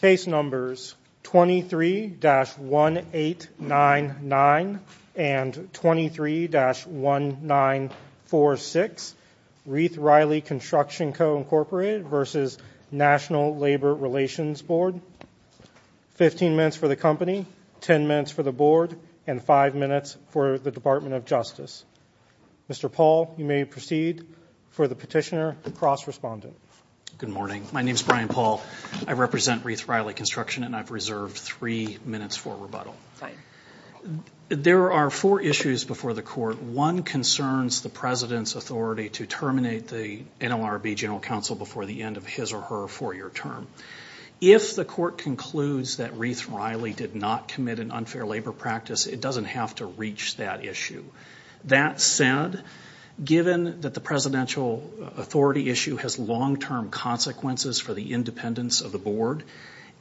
Case numbers 23-1899 and 23-1946, RiethRiley Construction Co, Inc. v. National Labor Relations Board 15 minutes for the company, 10 minutes for the board, and 5 minutes for the Department of Justice Mr. Paul, you may proceed for the petitioner cross-respondent Good morning. My name is Brian Paul. I represent RiethRiley Construction and I've reserved 3 minutes for rebuttal. There are 4 issues before the court. One concerns the President's authority to terminate the NLRB General Counsel before the end of his or her 4-year term. If the court concludes that RiethRiley did not commit an unfair labor practice, it doesn't have to reach that issue. That said, given that the Presidential authority issue has long-term consequences for the independence of the board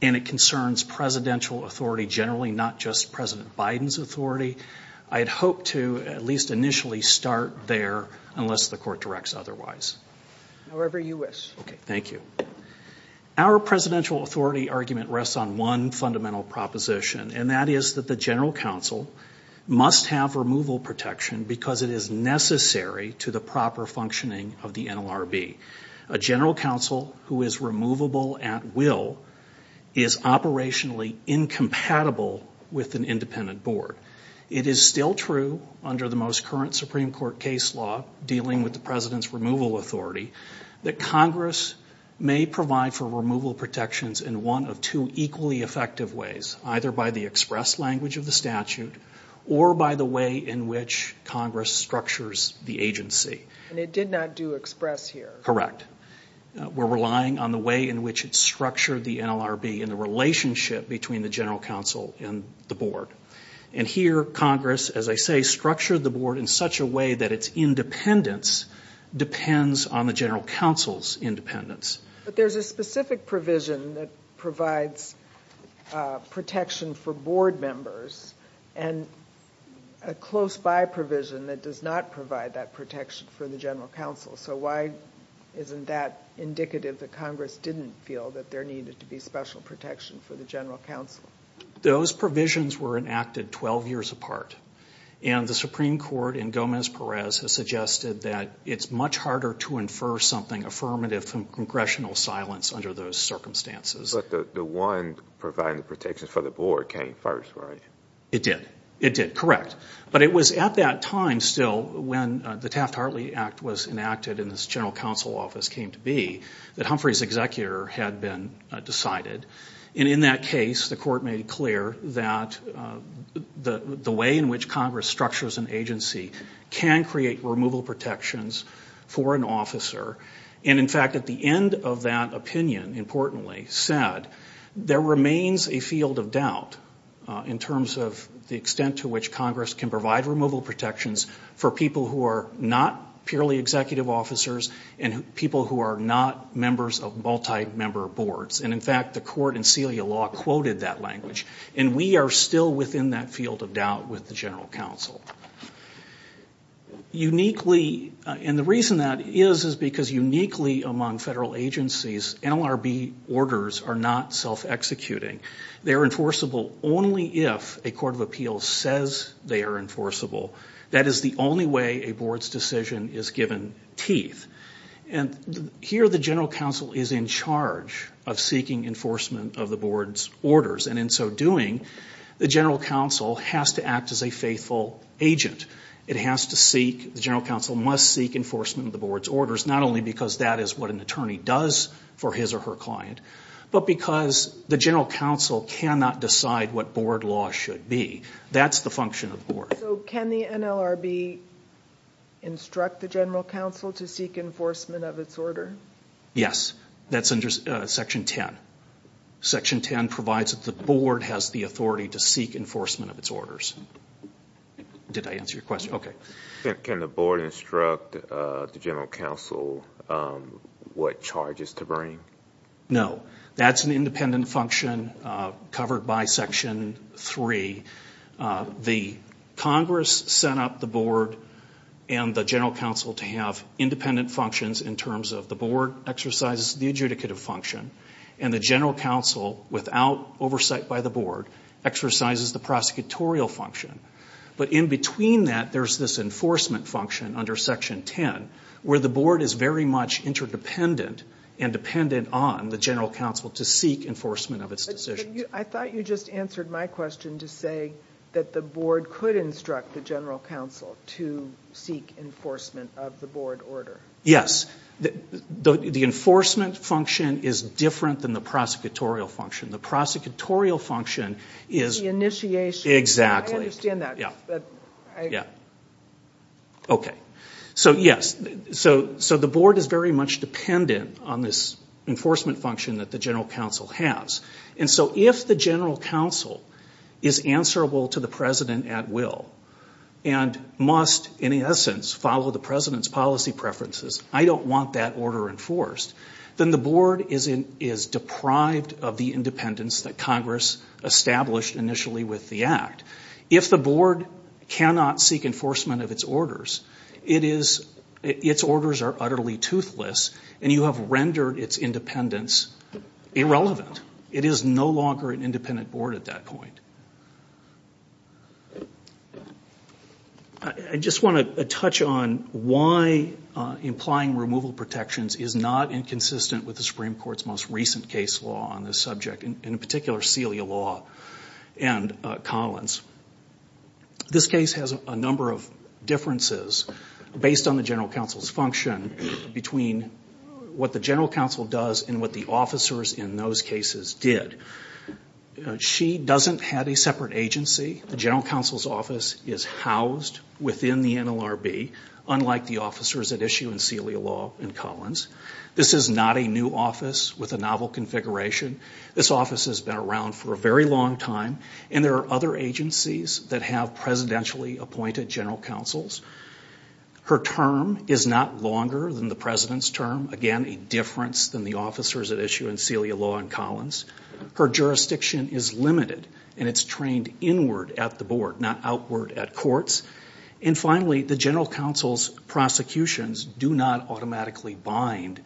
and it concerns Presidential authority generally, not just President Biden's authority, I'd hope to at least initially start there unless the court directs otherwise. However you wish. Okay, thank you. Our Presidential authority argument rests on one fundamental proposition and that is that the General Counsel must have removal protection because it is necessary to the proper functioning of the NLRB. A General Counsel who is removable at will is operationally incompatible with an independent board. It is still true under the most current Supreme Court case law dealing with the President's removal authority that Congress may provide for removal protections in one of two equally effective ways either by the express language of the statute or by the way in which Congress structures the agency. And it did not do express here. Correct. We're relying on the way in which it structured the NLRB in the relationship between the General Counsel and the board. And here Congress, as I say, structured the board in such a way that its independence depends on the General Counsel's independence. But there's a specific provision that provides protection for board members and a close by provision that does not provide that protection for the General Counsel. So why isn't that indicative that Congress didn't feel that there needed to be special protection for the General Counsel? Those provisions were enacted 12 years apart. And the Supreme Court in Gomez-Perez has suggested that it's much harder to infer something affirmative from congressional silence under those circumstances. But the one providing the protections for the board came first, right? It did. It did, correct. But it was at that time still when the Taft-Hartley Act was enacted and this General Counsel office came to be that Humphrey's executor had been decided. And in that case, the court made it clear that the way in which Congress structures an agency can create removal protections for an officer. And, in fact, at the end of that opinion, importantly, said, there remains a field of doubt in terms of the extent to which Congress can provide removal protections for people who are not purely executive officers and people who are not members of multi-member boards. And, in fact, the court in Celia Law quoted that language. And we are still within that field of doubt with the General Counsel. Uniquely, and the reason that is is because uniquely among federal agencies, NLRB orders are not self-executing. They are enforceable only if a court of appeals says they are enforceable. That is the only way a board's decision is given teeth. And here the General Counsel is in charge of seeking enforcement of the board's orders. And in so doing, the General Counsel has to act as a faithful agent. It has to seek, the General Counsel must seek enforcement of the board's orders, not only because that is what an attorney does for his or her client, but because the General Counsel cannot decide what board law should be. That's the function of the board. So can the NLRB instruct the General Counsel to seek enforcement of its order? Yes. That's under Section 10. Section 10 provides that the board has the authority to seek enforcement of its orders. Did I answer your question? Okay. Can the board instruct the General Counsel what charges to bring? No. That's an independent function covered by Section 3. The Congress set up the board and the General Counsel to have independent functions in terms of the board exercises the adjudicative function, and the General Counsel, without oversight by the board, exercises the prosecutorial function. But in between that, there's this enforcement function under Section 10 where the board is very much interdependent and dependent on the General Counsel to seek enforcement of its decisions. I thought you just answered my question to say that the board could instruct the General Counsel to seek enforcement of the board order. Yes. The enforcement function is different than the prosecutorial function. The prosecutorial function is... The initiation. Exactly. I understand that. Yeah. Okay. So, yes. So the board is very much dependent on this enforcement function that the General Counsel has. And so if the General Counsel is answerable to the President at will and must, in essence, follow the President's policy preferences, I don't want that order enforced, then the board is deprived of the independence that Congress established initially with the Act. If the board cannot seek enforcement of its orders, its orders are utterly toothless, and you have rendered its independence irrelevant. It is no longer an independent board at that point. I just want to touch on why implying removal protections is not inconsistent with the Supreme Court's most recent case law on this subject, in particular, Celia law and Collins. This case has a number of differences based on the General Counsel's function between what the General Counsel does and what the officers in those cases did. She doesn't have a separate agency. The General Counsel's office is housed within the NLRB, unlike the officers at issue in Celia law and Collins. This is not a new office with a novel configuration. This office has been around for a very long time, and there are other agencies that have presidentially appointed General Counsels. Her term is not longer than the president's term, again, a difference than the officers at issue in Celia law and Collins. Her jurisdiction is limited, and it's trained inward at the board, not outward at courts. And finally, the General Counsel's prosecutions do not automatically bind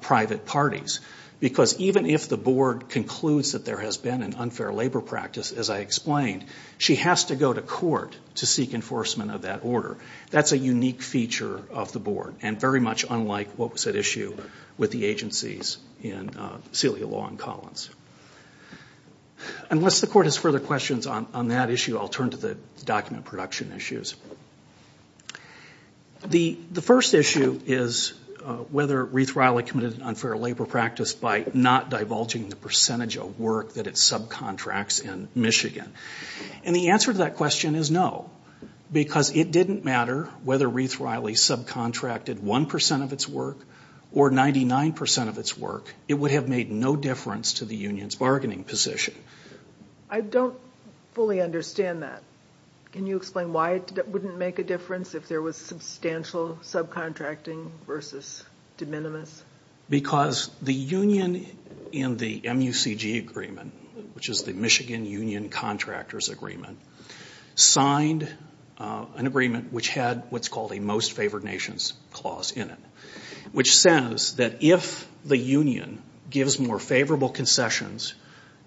private parties, because even if the board concludes that there has been an unfair labor practice, as I explained, she has to go to court to seek enforcement of that order. That's a unique feature of the board and very much unlike what was at issue with the agencies in Celia law and Collins. Unless the court has further questions on that issue, I'll turn to the document production issues. The first issue is whether Reeth-Riley committed an unfair labor practice by not divulging the percentage of work that it subcontracts in Michigan. And the answer to that question is no, because it didn't matter whether Reeth-Riley subcontracted 1% of its work or 99% of its work. It would have made no difference to the union's bargaining position. I don't fully understand that. Can you explain why it wouldn't make a difference if there was substantial subcontracting versus de minimis? Because the union in the MUCG agreement, which is the Michigan Union Contractors Agreement, signed an agreement which had what's called a most favored nations clause in it, which says that if the union gives more favorable concessions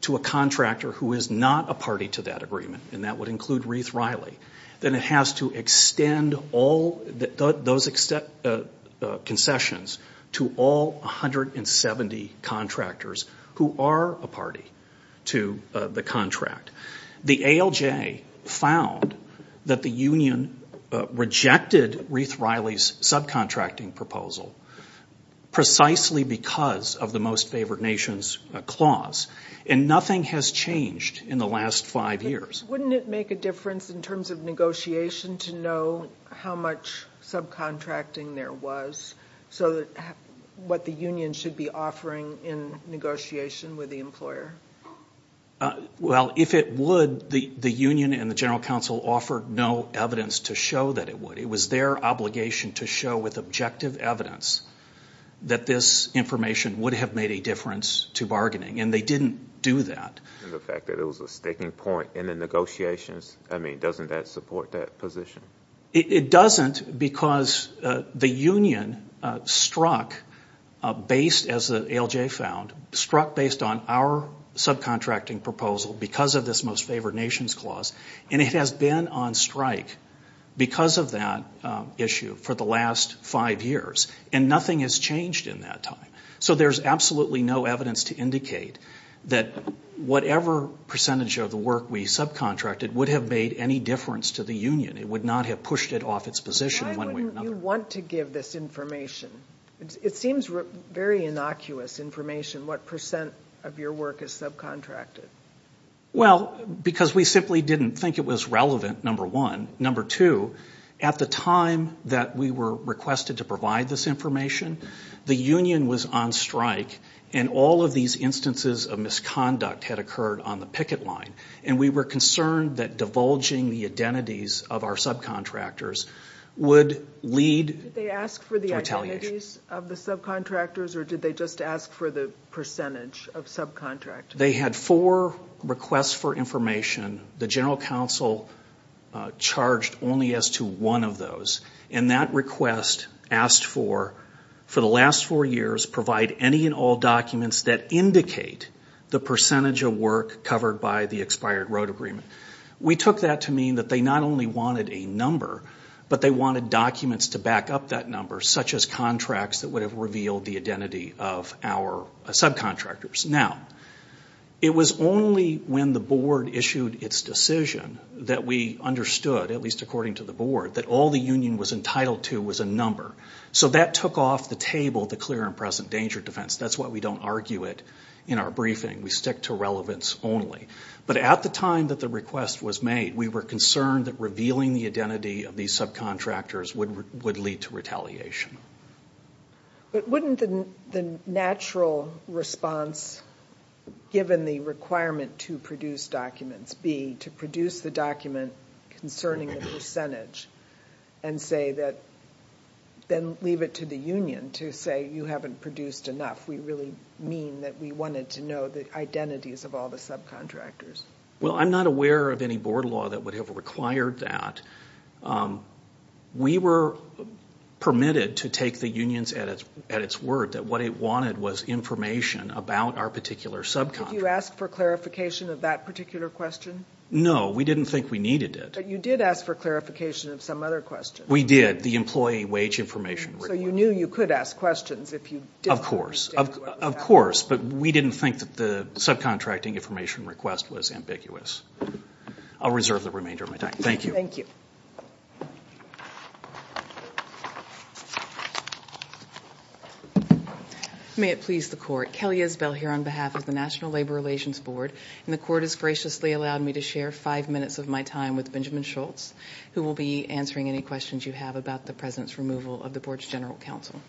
to a contractor who is not a party to that agreement, and that would include Reeth-Riley, then it has to extend those concessions to all 170 contractors who are a party to the contract. The ALJ found that the union rejected Reeth-Riley's subcontracting proposal precisely because of the most favored nations clause, and nothing has changed in the last five years. Wouldn't it make a difference in terms of negotiation to know how much subcontracting there was, so what the union should be offering in negotiation with the employer? Well, if it would, the union and the general counsel offered no evidence to show that it would. It was their obligation to show with objective evidence that this information would have made a difference to bargaining, and they didn't do that. And the fact that it was a sticking point in the negotiations, I mean, doesn't that support that position? It doesn't because the union struck based, as the ALJ found, struck based on our subcontracting proposal because of this most favored nations clause, and it has been on strike because of that issue for the last five years, and nothing has changed in that time. So there's absolutely no evidence to indicate that whatever percentage of the work we subcontracted would have made any difference to the union. It would not have pushed it off its position. Why wouldn't you want to give this information? It seems very innocuous information what percent of your work is subcontracted. Well, because we simply didn't think it was relevant, number one. Number two, at the time that we were requested to provide this information, the union was on strike, and all of these instances of misconduct had occurred on the picket line, and we were concerned that divulging the identities of our subcontractors would lead to retaliation. Did they ask for the identities of the subcontractors, or did they just ask for the percentage of subcontractors? They had four requests for information. The general counsel charged only as to one of those, and that request asked for, for the last four years, provide any and all documents that indicate the percentage of work covered by the expired road agreement. We took that to mean that they not only wanted a number, but they wanted documents to back up that number, such as contracts that would have revealed the identity of our subcontractors. Now, it was only when the board issued its decision that we understood, at least according to the board, that all the union was entitled to was a number. So that took off the table, the clear and present danger defense. That's why we don't argue it in our briefing. We stick to relevance only. But at the time that the request was made, we were concerned that revealing the identity of these subcontractors would lead to retaliation. But wouldn't the natural response, given the requirement to produce documents, be to produce the document concerning the percentage and say that, then leave it to the union to say you haven't produced enough. We really mean that we wanted to know the identities of all the subcontractors. Well, I'm not aware of any board law that would have required that. We were permitted to take the union's at its word, that what it wanted was information about our particular subcontractor. Did you ask for clarification of that particular question? No, we didn't think we needed it. But you did ask for clarification of some other question. We did, the employee wage information request. So you knew you could ask questions if you didn't understand what was happening. Of course, but we didn't think that the subcontracting information request was ambiguous. I'll reserve the remainder of my time. Thank you. Thank you. May it please the Court. Kelly Isbell here on behalf of the National Labor Relations Board. And the Court has graciously allowed me to share five minutes of my time with Benjamin Schultz, who will be answering any questions you have about the President's removal of the Board's General Counsel.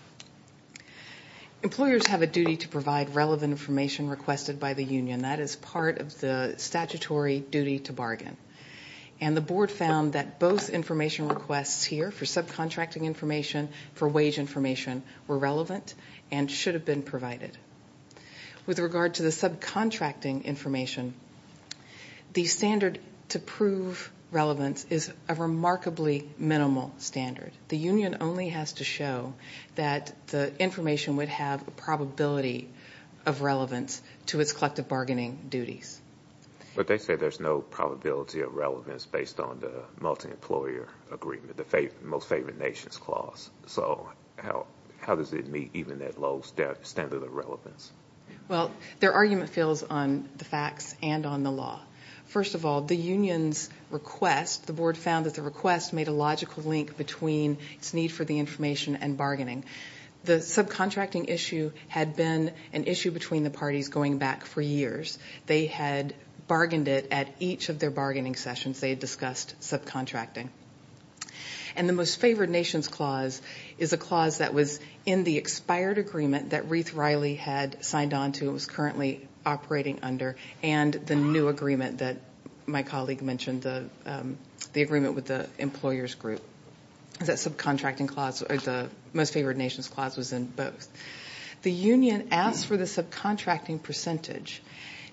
Employers have a duty to provide relevant information requested by the union. That is part of the statutory duty to bargain. And the Board found that both information requests here for subcontracting information, for wage information, were relevant and should have been provided. With regard to the subcontracting information, the standard to prove relevance is a remarkably minimal standard. The union only has to show that the information would have a probability of relevance to its collective bargaining duties. But they say there's no probability of relevance based on the multi-employer agreement, the most favored nations clause. So how does it meet even that low standard of relevance? Well, their argument feels on the facts and on the law. First of all, the union's request, the Board found that the request made a logical link between its need for the information and bargaining. The subcontracting issue had been an issue between the parties going back for years. They had bargained it at each of their bargaining sessions. They had discussed subcontracting. And the most favored nations clause is a clause that was in the expired agreement that Ruth Riley had signed on to and was currently operating under and the new agreement that my colleague mentioned, the agreement with the employers group. That subcontracting clause, or the most favored nations clause, was in both. The union asked for the subcontracting percentage,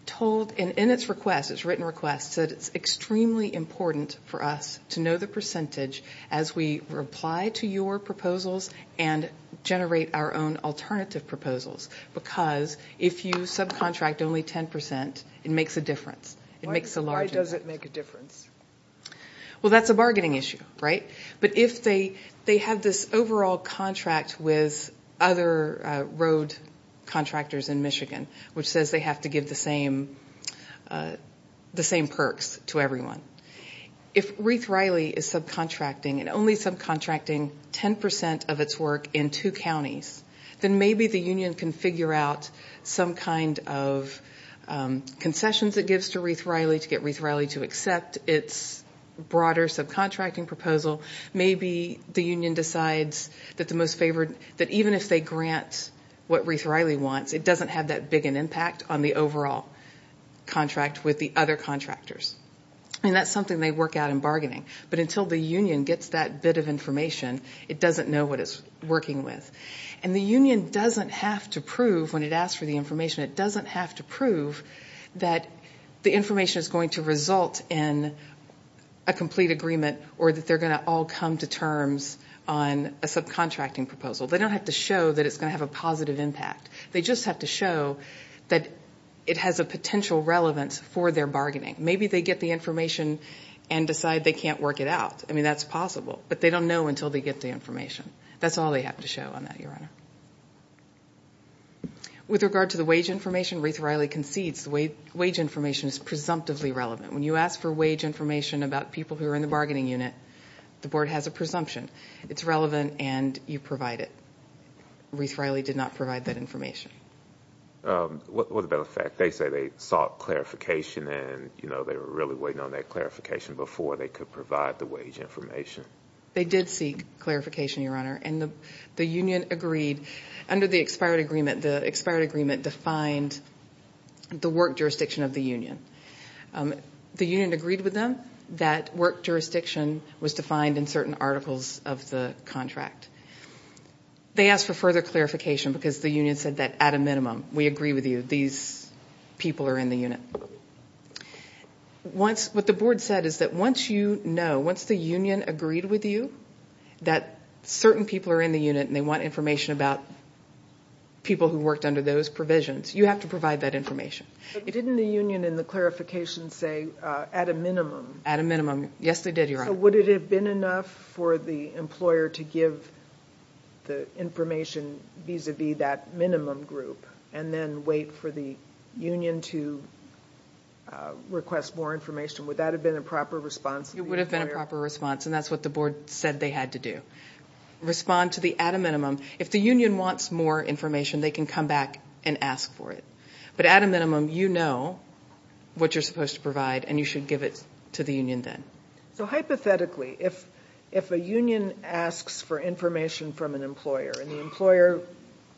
told in its request, its written request, that it's extremely important for us to know the percentage as we reply to your proposals and generate our own alternative proposals because if you subcontract only 10%, it makes a difference. It makes a large difference. Why does it make a difference? Well, that's a bargaining issue, right? But if they have this overall contract with other road contractors in Michigan, which says they have to give the same perks to everyone, if Ruth Riley is subcontracting and only subcontracting 10% of its work in two counties, then maybe the union can figure out some kind of concessions it gives to Ruth Riley to get Ruth Riley to accept its broader subcontracting proposal. Maybe the union decides that even if they grant what Ruth Riley wants, it doesn't have that big an impact on the overall contract with the other contractors. And that's something they work out in bargaining. But until the union gets that bit of information, it doesn't know what it's working with. And the union doesn't have to prove when it asks for the information, it doesn't have to prove that the information is going to result in a complete agreement or that they're going to all come to terms on a subcontracting proposal. They don't have to show that it's going to have a positive impact. They just have to show that it has a potential relevance for their bargaining. Maybe they get the information and decide they can't work it out. I mean, that's possible. But they don't know until they get the information. That's all they have to show on that, Your Honor. With regard to the wage information, Ruth Riley concedes the wage information is presumptively relevant. When you ask for wage information about people who are in the bargaining unit, the board has a presumption. It's relevant, and you provide it. Ruth Riley did not provide that information. Well, as a matter of fact, they say they sought clarification, and they were really waiting on that clarification before they could provide the wage information. They did seek clarification, Your Honor. And the union agreed. Under the expired agreement, the expired agreement defined the work jurisdiction of the union. The union agreed with them that work jurisdiction was defined in certain articles of the contract. They asked for further clarification because the union said that, at a minimum, we agree with you. These people are in the unit. What the board said is that once you know, once the union agreed with you that certain people are in the unit and they want information about people who worked under those provisions, you have to provide that information. But didn't the union in the clarification say, at a minimum? At a minimum, yes, they did, Your Honor. Would it have been enough for the employer to give the information vis-à-vis that minimum group and then wait for the union to request more information? Would that have been a proper response to the employer? It would have been a proper response, and that's what the board said they had to do. Respond to the at a minimum. If the union wants more information, they can come back and ask for it. But at a minimum, you know what you're supposed to provide, and you should give it to the union then. So hypothetically, if a union asks for information from an employer and the employer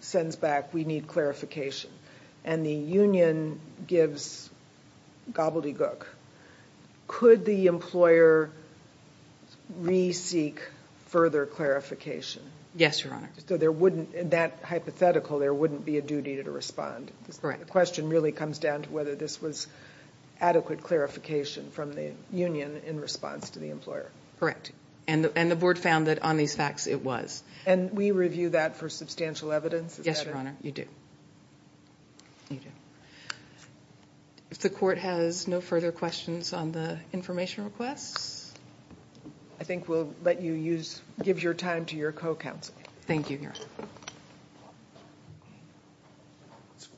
sends back, we need clarification, and the union gives gobbledygook, could the employer re-seek further clarification? Yes, Your Honor. So there wouldn't, in that hypothetical, there wouldn't be a duty to respond. Correct. The question really comes down to whether this was adequate clarification from the union in response to the employer. Correct. And the board found that on these facts it was. And we review that for substantial evidence. Yes, Your Honor. You do. You do. If the court has no further questions on the information requests, I think we'll let you give your time to your co-counsel. Thank you, Your Honor.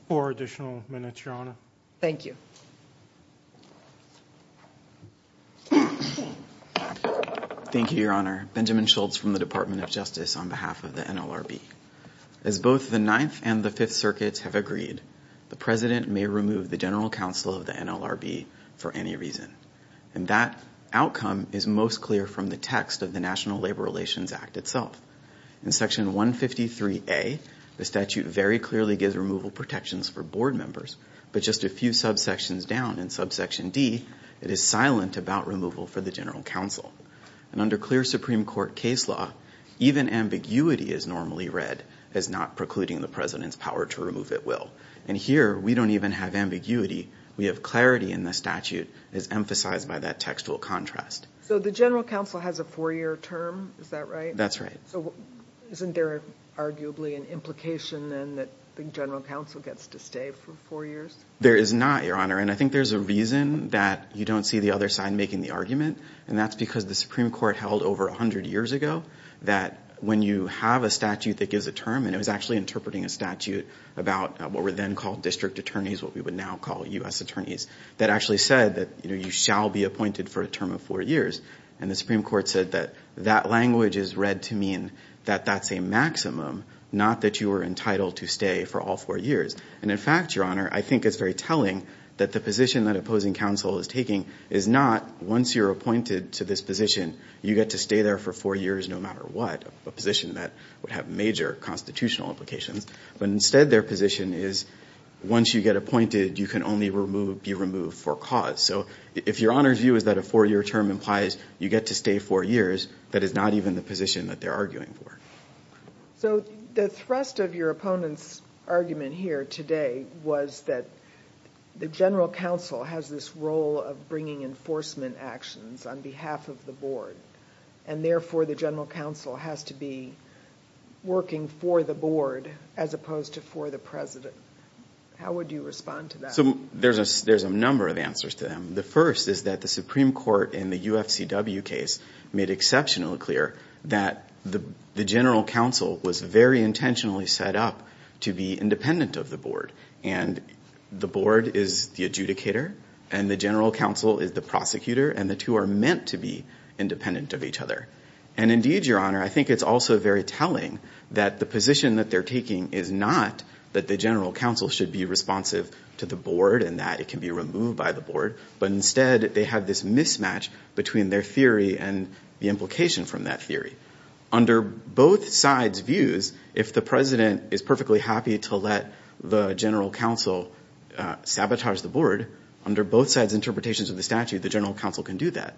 Four additional minutes, Your Honor. Thank you. Thank you, Your Honor. Benjamin Schultz from the Department of Justice on behalf of the NLRB. As both the Ninth and the Fifth Circuits have agreed, the President may remove the General Counsel of the NLRB for any reason. And that outcome is most clear from the text of the National Labor Relations Act itself. In Section 153A, the statute very clearly gives removal protections for board members, but just a few subsections down in Subsection D, it is silent about removal for the General Counsel. And under clear Supreme Court case law, even ambiguity is normally read as not precluding the President's power to remove at will. And here we don't even have ambiguity. We have clarity in the statute as emphasized by that textual contrast. So the General Counsel has a four-year term, is that right? That's right. So isn't there arguably an implication then that the General Counsel gets to stay for four years? There is not, Your Honor. And I think there's a reason that you don't see the other side making the argument, and that's because the Supreme Court held over 100 years ago that when you have a statute that gives a term, and it was actually interpreting a statute about what were then called district attorneys, what we would now call U.S. attorneys, that actually said that you shall be appointed for a term of four years. And the Supreme Court said that that language is read to mean that that's a maximum, not that you are entitled to stay for all four years. And, in fact, Your Honor, I think it's very telling that the position that opposing counsel is taking is not once you're appointed to this position, you get to stay there for four years no matter what, a position that would have major constitutional implications. But instead their position is once you get appointed, you can only be removed for cause. So if Your Honor's view is that a four-year term implies you get to stay four years, that is not even the position that they're arguing for. So the thrust of your opponent's argument here today was that the general counsel has this role of bringing enforcement actions on behalf of the board, and therefore the general counsel has to be working for the board as opposed to for the president. How would you respond to that? So there's a number of answers to that. The first is that the Supreme Court in the UFCW case made exceptionally clear that the general counsel was very intentionally set up to be independent of the board, and the board is the adjudicator and the general counsel is the prosecutor, and the two are meant to be independent of each other. And, indeed, Your Honor, I think it's also very telling that the position that they're taking is not that the general counsel should be responsive to the board and that it can be removed by the board, but instead they have this mismatch between their theory and the implication from that theory. Under both sides' views, if the president is perfectly happy to let the general counsel sabotage the board, under both sides' interpretations of the statute, the general counsel can do that.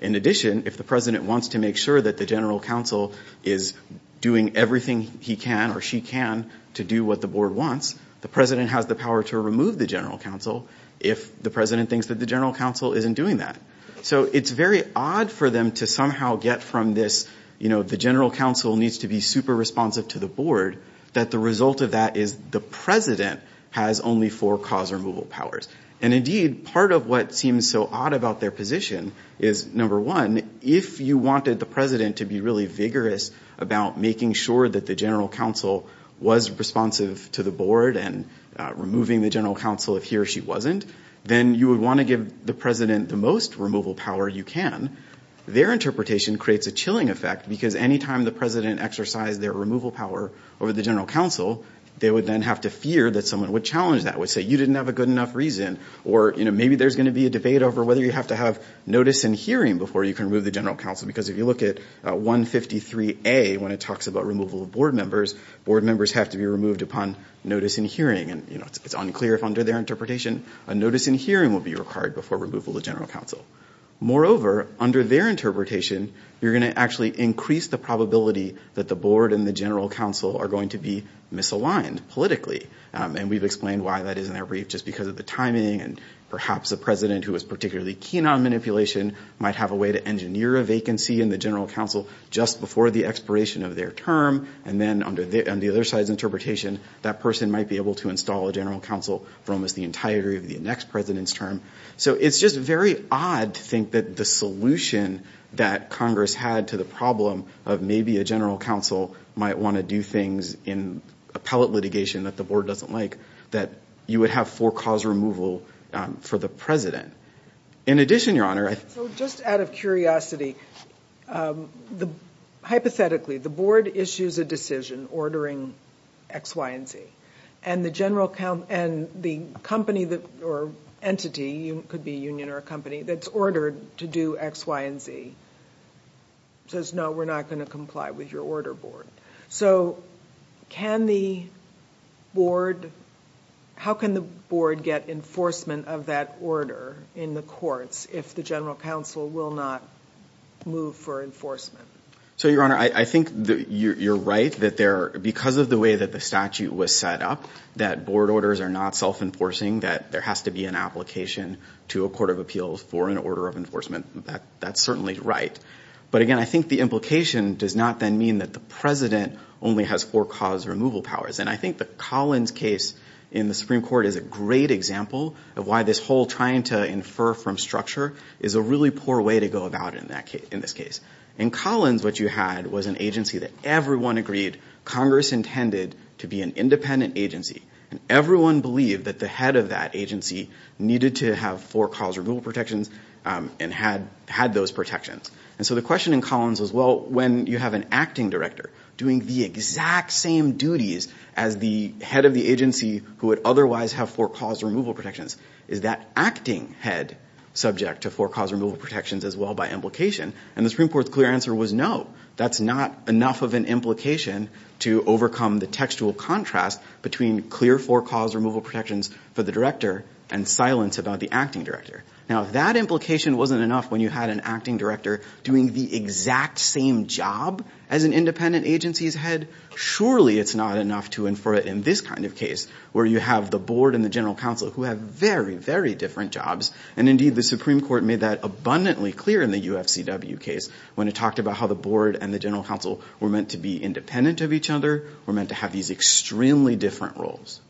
In addition, if the president wants to make sure that the general counsel is doing everything he can or she can to do what the board wants, the president has the power to remove the general counsel if the president thinks that the general counsel isn't doing that. So it's very odd for them to somehow get from this, you know, the general counsel needs to be super responsive to the board, that the result of that is the president has only four cause removal powers. And, indeed, part of what seems so odd about their position is, number one, if you wanted the president to be really vigorous about making sure that the general counsel was responsive to the board and removing the general counsel if he or she wasn't, then you would want to give the president the most removal power you can. Their interpretation creates a chilling effect, because any time the president exercised their removal power over the general counsel, they would then have to fear that someone would challenge that, would say, you didn't have a good enough reason. Or, you know, maybe there's going to be a debate over whether you have to have notice and hearing before you can remove the general counsel, because if you look at 153A, when it talks about removal of board members, board members have to be removed upon notice and hearing. And, you know, it's unclear if under their interpretation a notice and hearing will be required before removal of the general counsel. Moreover, under their interpretation, you're going to actually increase the probability that the board and the general counsel are going to be misaligned politically. And we've explained why that is in that brief, just because of the timing, and perhaps a president who is particularly keen on manipulation might have a way to engineer a vacancy in the general counsel just before the expiration of their term. And then under the other side's interpretation, that person might be able to install a general counsel for almost the entirety of the next president's term. So it's just very odd to think that the solution that Congress had to the problem of maybe a general counsel might want to do things in appellate litigation that the board doesn't like, that you would have for-cause removal for the president. In addition, Your Honor, I think... So just out of curiosity, hypothetically, the board issues a decision ordering X, Y, and Z, and the company or entity, it could be a union or a company, that's ordered to do X, Y, and Z, says, no, we're not going to comply with your order, board. So can the board... How can the board get enforcement of that order in the courts if the general counsel will not move for enforcement? So, Your Honor, I think you're right that because of the way that the statute was set up, that board orders are not self-enforcing, that there has to be an application to a court of appeals for an order of enforcement. That's certainly right. But, again, I think the implication does not then mean that the president only has for-cause removal powers. And I think the Collins case in the Supreme Court is a great example of why this whole trying to infer from structure is a really poor way to go about in this case. In Collins, what you had was an agency that everyone agreed Congress intended to be an independent agency. And everyone believed that the head of that agency needed to have for-cause removal protections and had those protections. And so the question in Collins was, well, when you have an acting director doing the exact same duties as the head of the agency who would otherwise have for-cause removal protections, is that acting head subject to for-cause removal protections as well by implication? And the Supreme Court's clear answer was no. That's not enough of an implication to overcome the textual contrast between clear for-cause removal protections for the director and silence about the acting director. Now, if that implication wasn't enough when you had an acting director doing the exact same job as an independent agency's head, surely it's not enough to infer it in this kind of case where you have the board and the general counsel who have very, very different jobs. And indeed, the Supreme Court made that abundantly clear in the UFCW case when it talked about how the board and the general counsel were meant to be independent of each other, were meant to have these extremely different roles.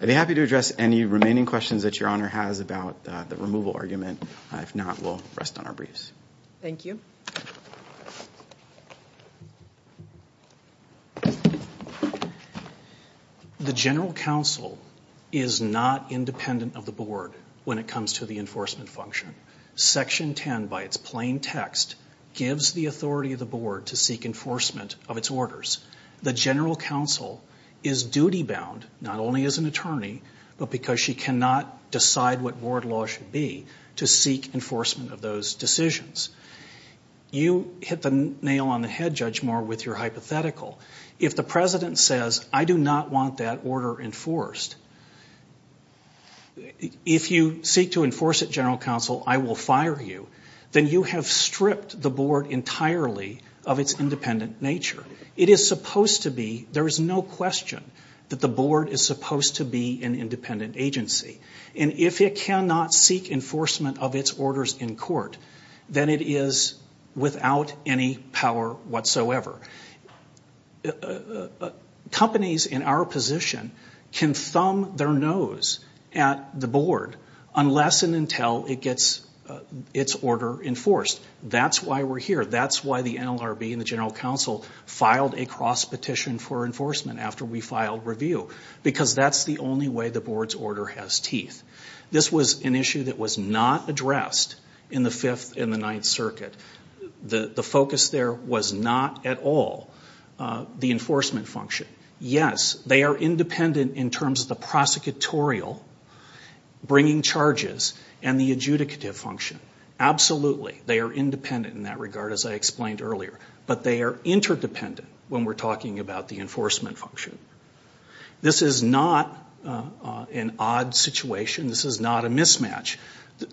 I'd be happy to address any remaining questions that Your Honor has about the removal argument. If not, we'll rest on our briefs. Thank you. The general counsel is not independent of the board when it comes to the enforcement function. Section 10, by its plain text, gives the authority of the board to seek enforcement of its orders. The general counsel is duty-bound not only as an attorney but because she cannot decide what board law should be to seek enforcement of those decisions. You hit the nail on the head, Judge Moore, with your hypothetical. If the president says, I do not want that order enforced, if you seek to enforce it, general counsel, I will fire you, then you have stripped the board entirely of its independent nature. It is supposed to be, there is no question that the board is supposed to be an independent agency. And if it cannot seek enforcement of its orders in court, then it is without any power whatsoever. Companies in our position can thumb their nose at the board unless and until it gets its order enforced. That's why we're here. That's why the NLRB and the general counsel filed a cross-petition for enforcement after we filed review, because that's the only way the board's order has teeth. This was an issue that was not addressed in the Fifth and the Ninth Circuit. The focus there was not at all the enforcement function. Yes, they are independent in terms of the prosecutorial, bringing charges, and the adjudicative function. Absolutely, they are independent in that regard, as I explained earlier. But they are interdependent when we're talking about the enforcement function. This is not an odd situation. This is not a mismatch.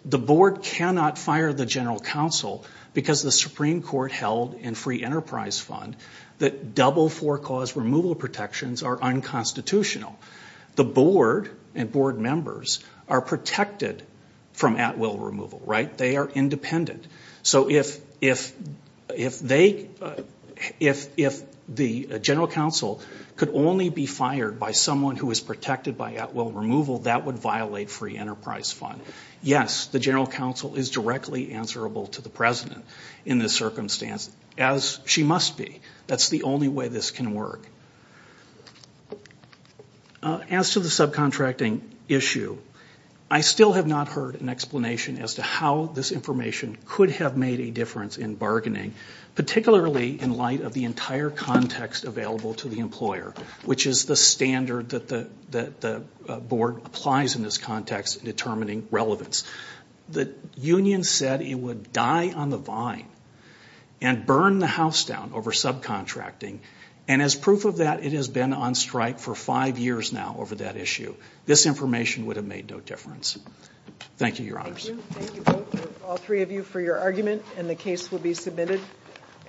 The board cannot fire the general counsel because the Supreme Court held in Free Enterprise Fund that double-for-cause removal protections are unconstitutional. The board and board members are protected from at-will removal, right? They are independent. So if the general counsel could only be fired by someone who is protected by at-will removal, that would violate Free Enterprise Fund. Yes, the general counsel is directly answerable to the president in this circumstance, as she must be. That's the only way this can work. As to the subcontracting issue, I still have not heard an explanation as to how this information could have made a difference in bargaining, particularly in light of the entire context available to the employer, which is the standard that the board applies in this context in determining relevance. The union said it would die on the vine and burn the house down over subcontracting. And as proof of that, it has been on strike for five years now over that issue. This information would have made no difference. Thank you, Your Honors. Thank you both, all three of you, for your argument, and the case will be submitted.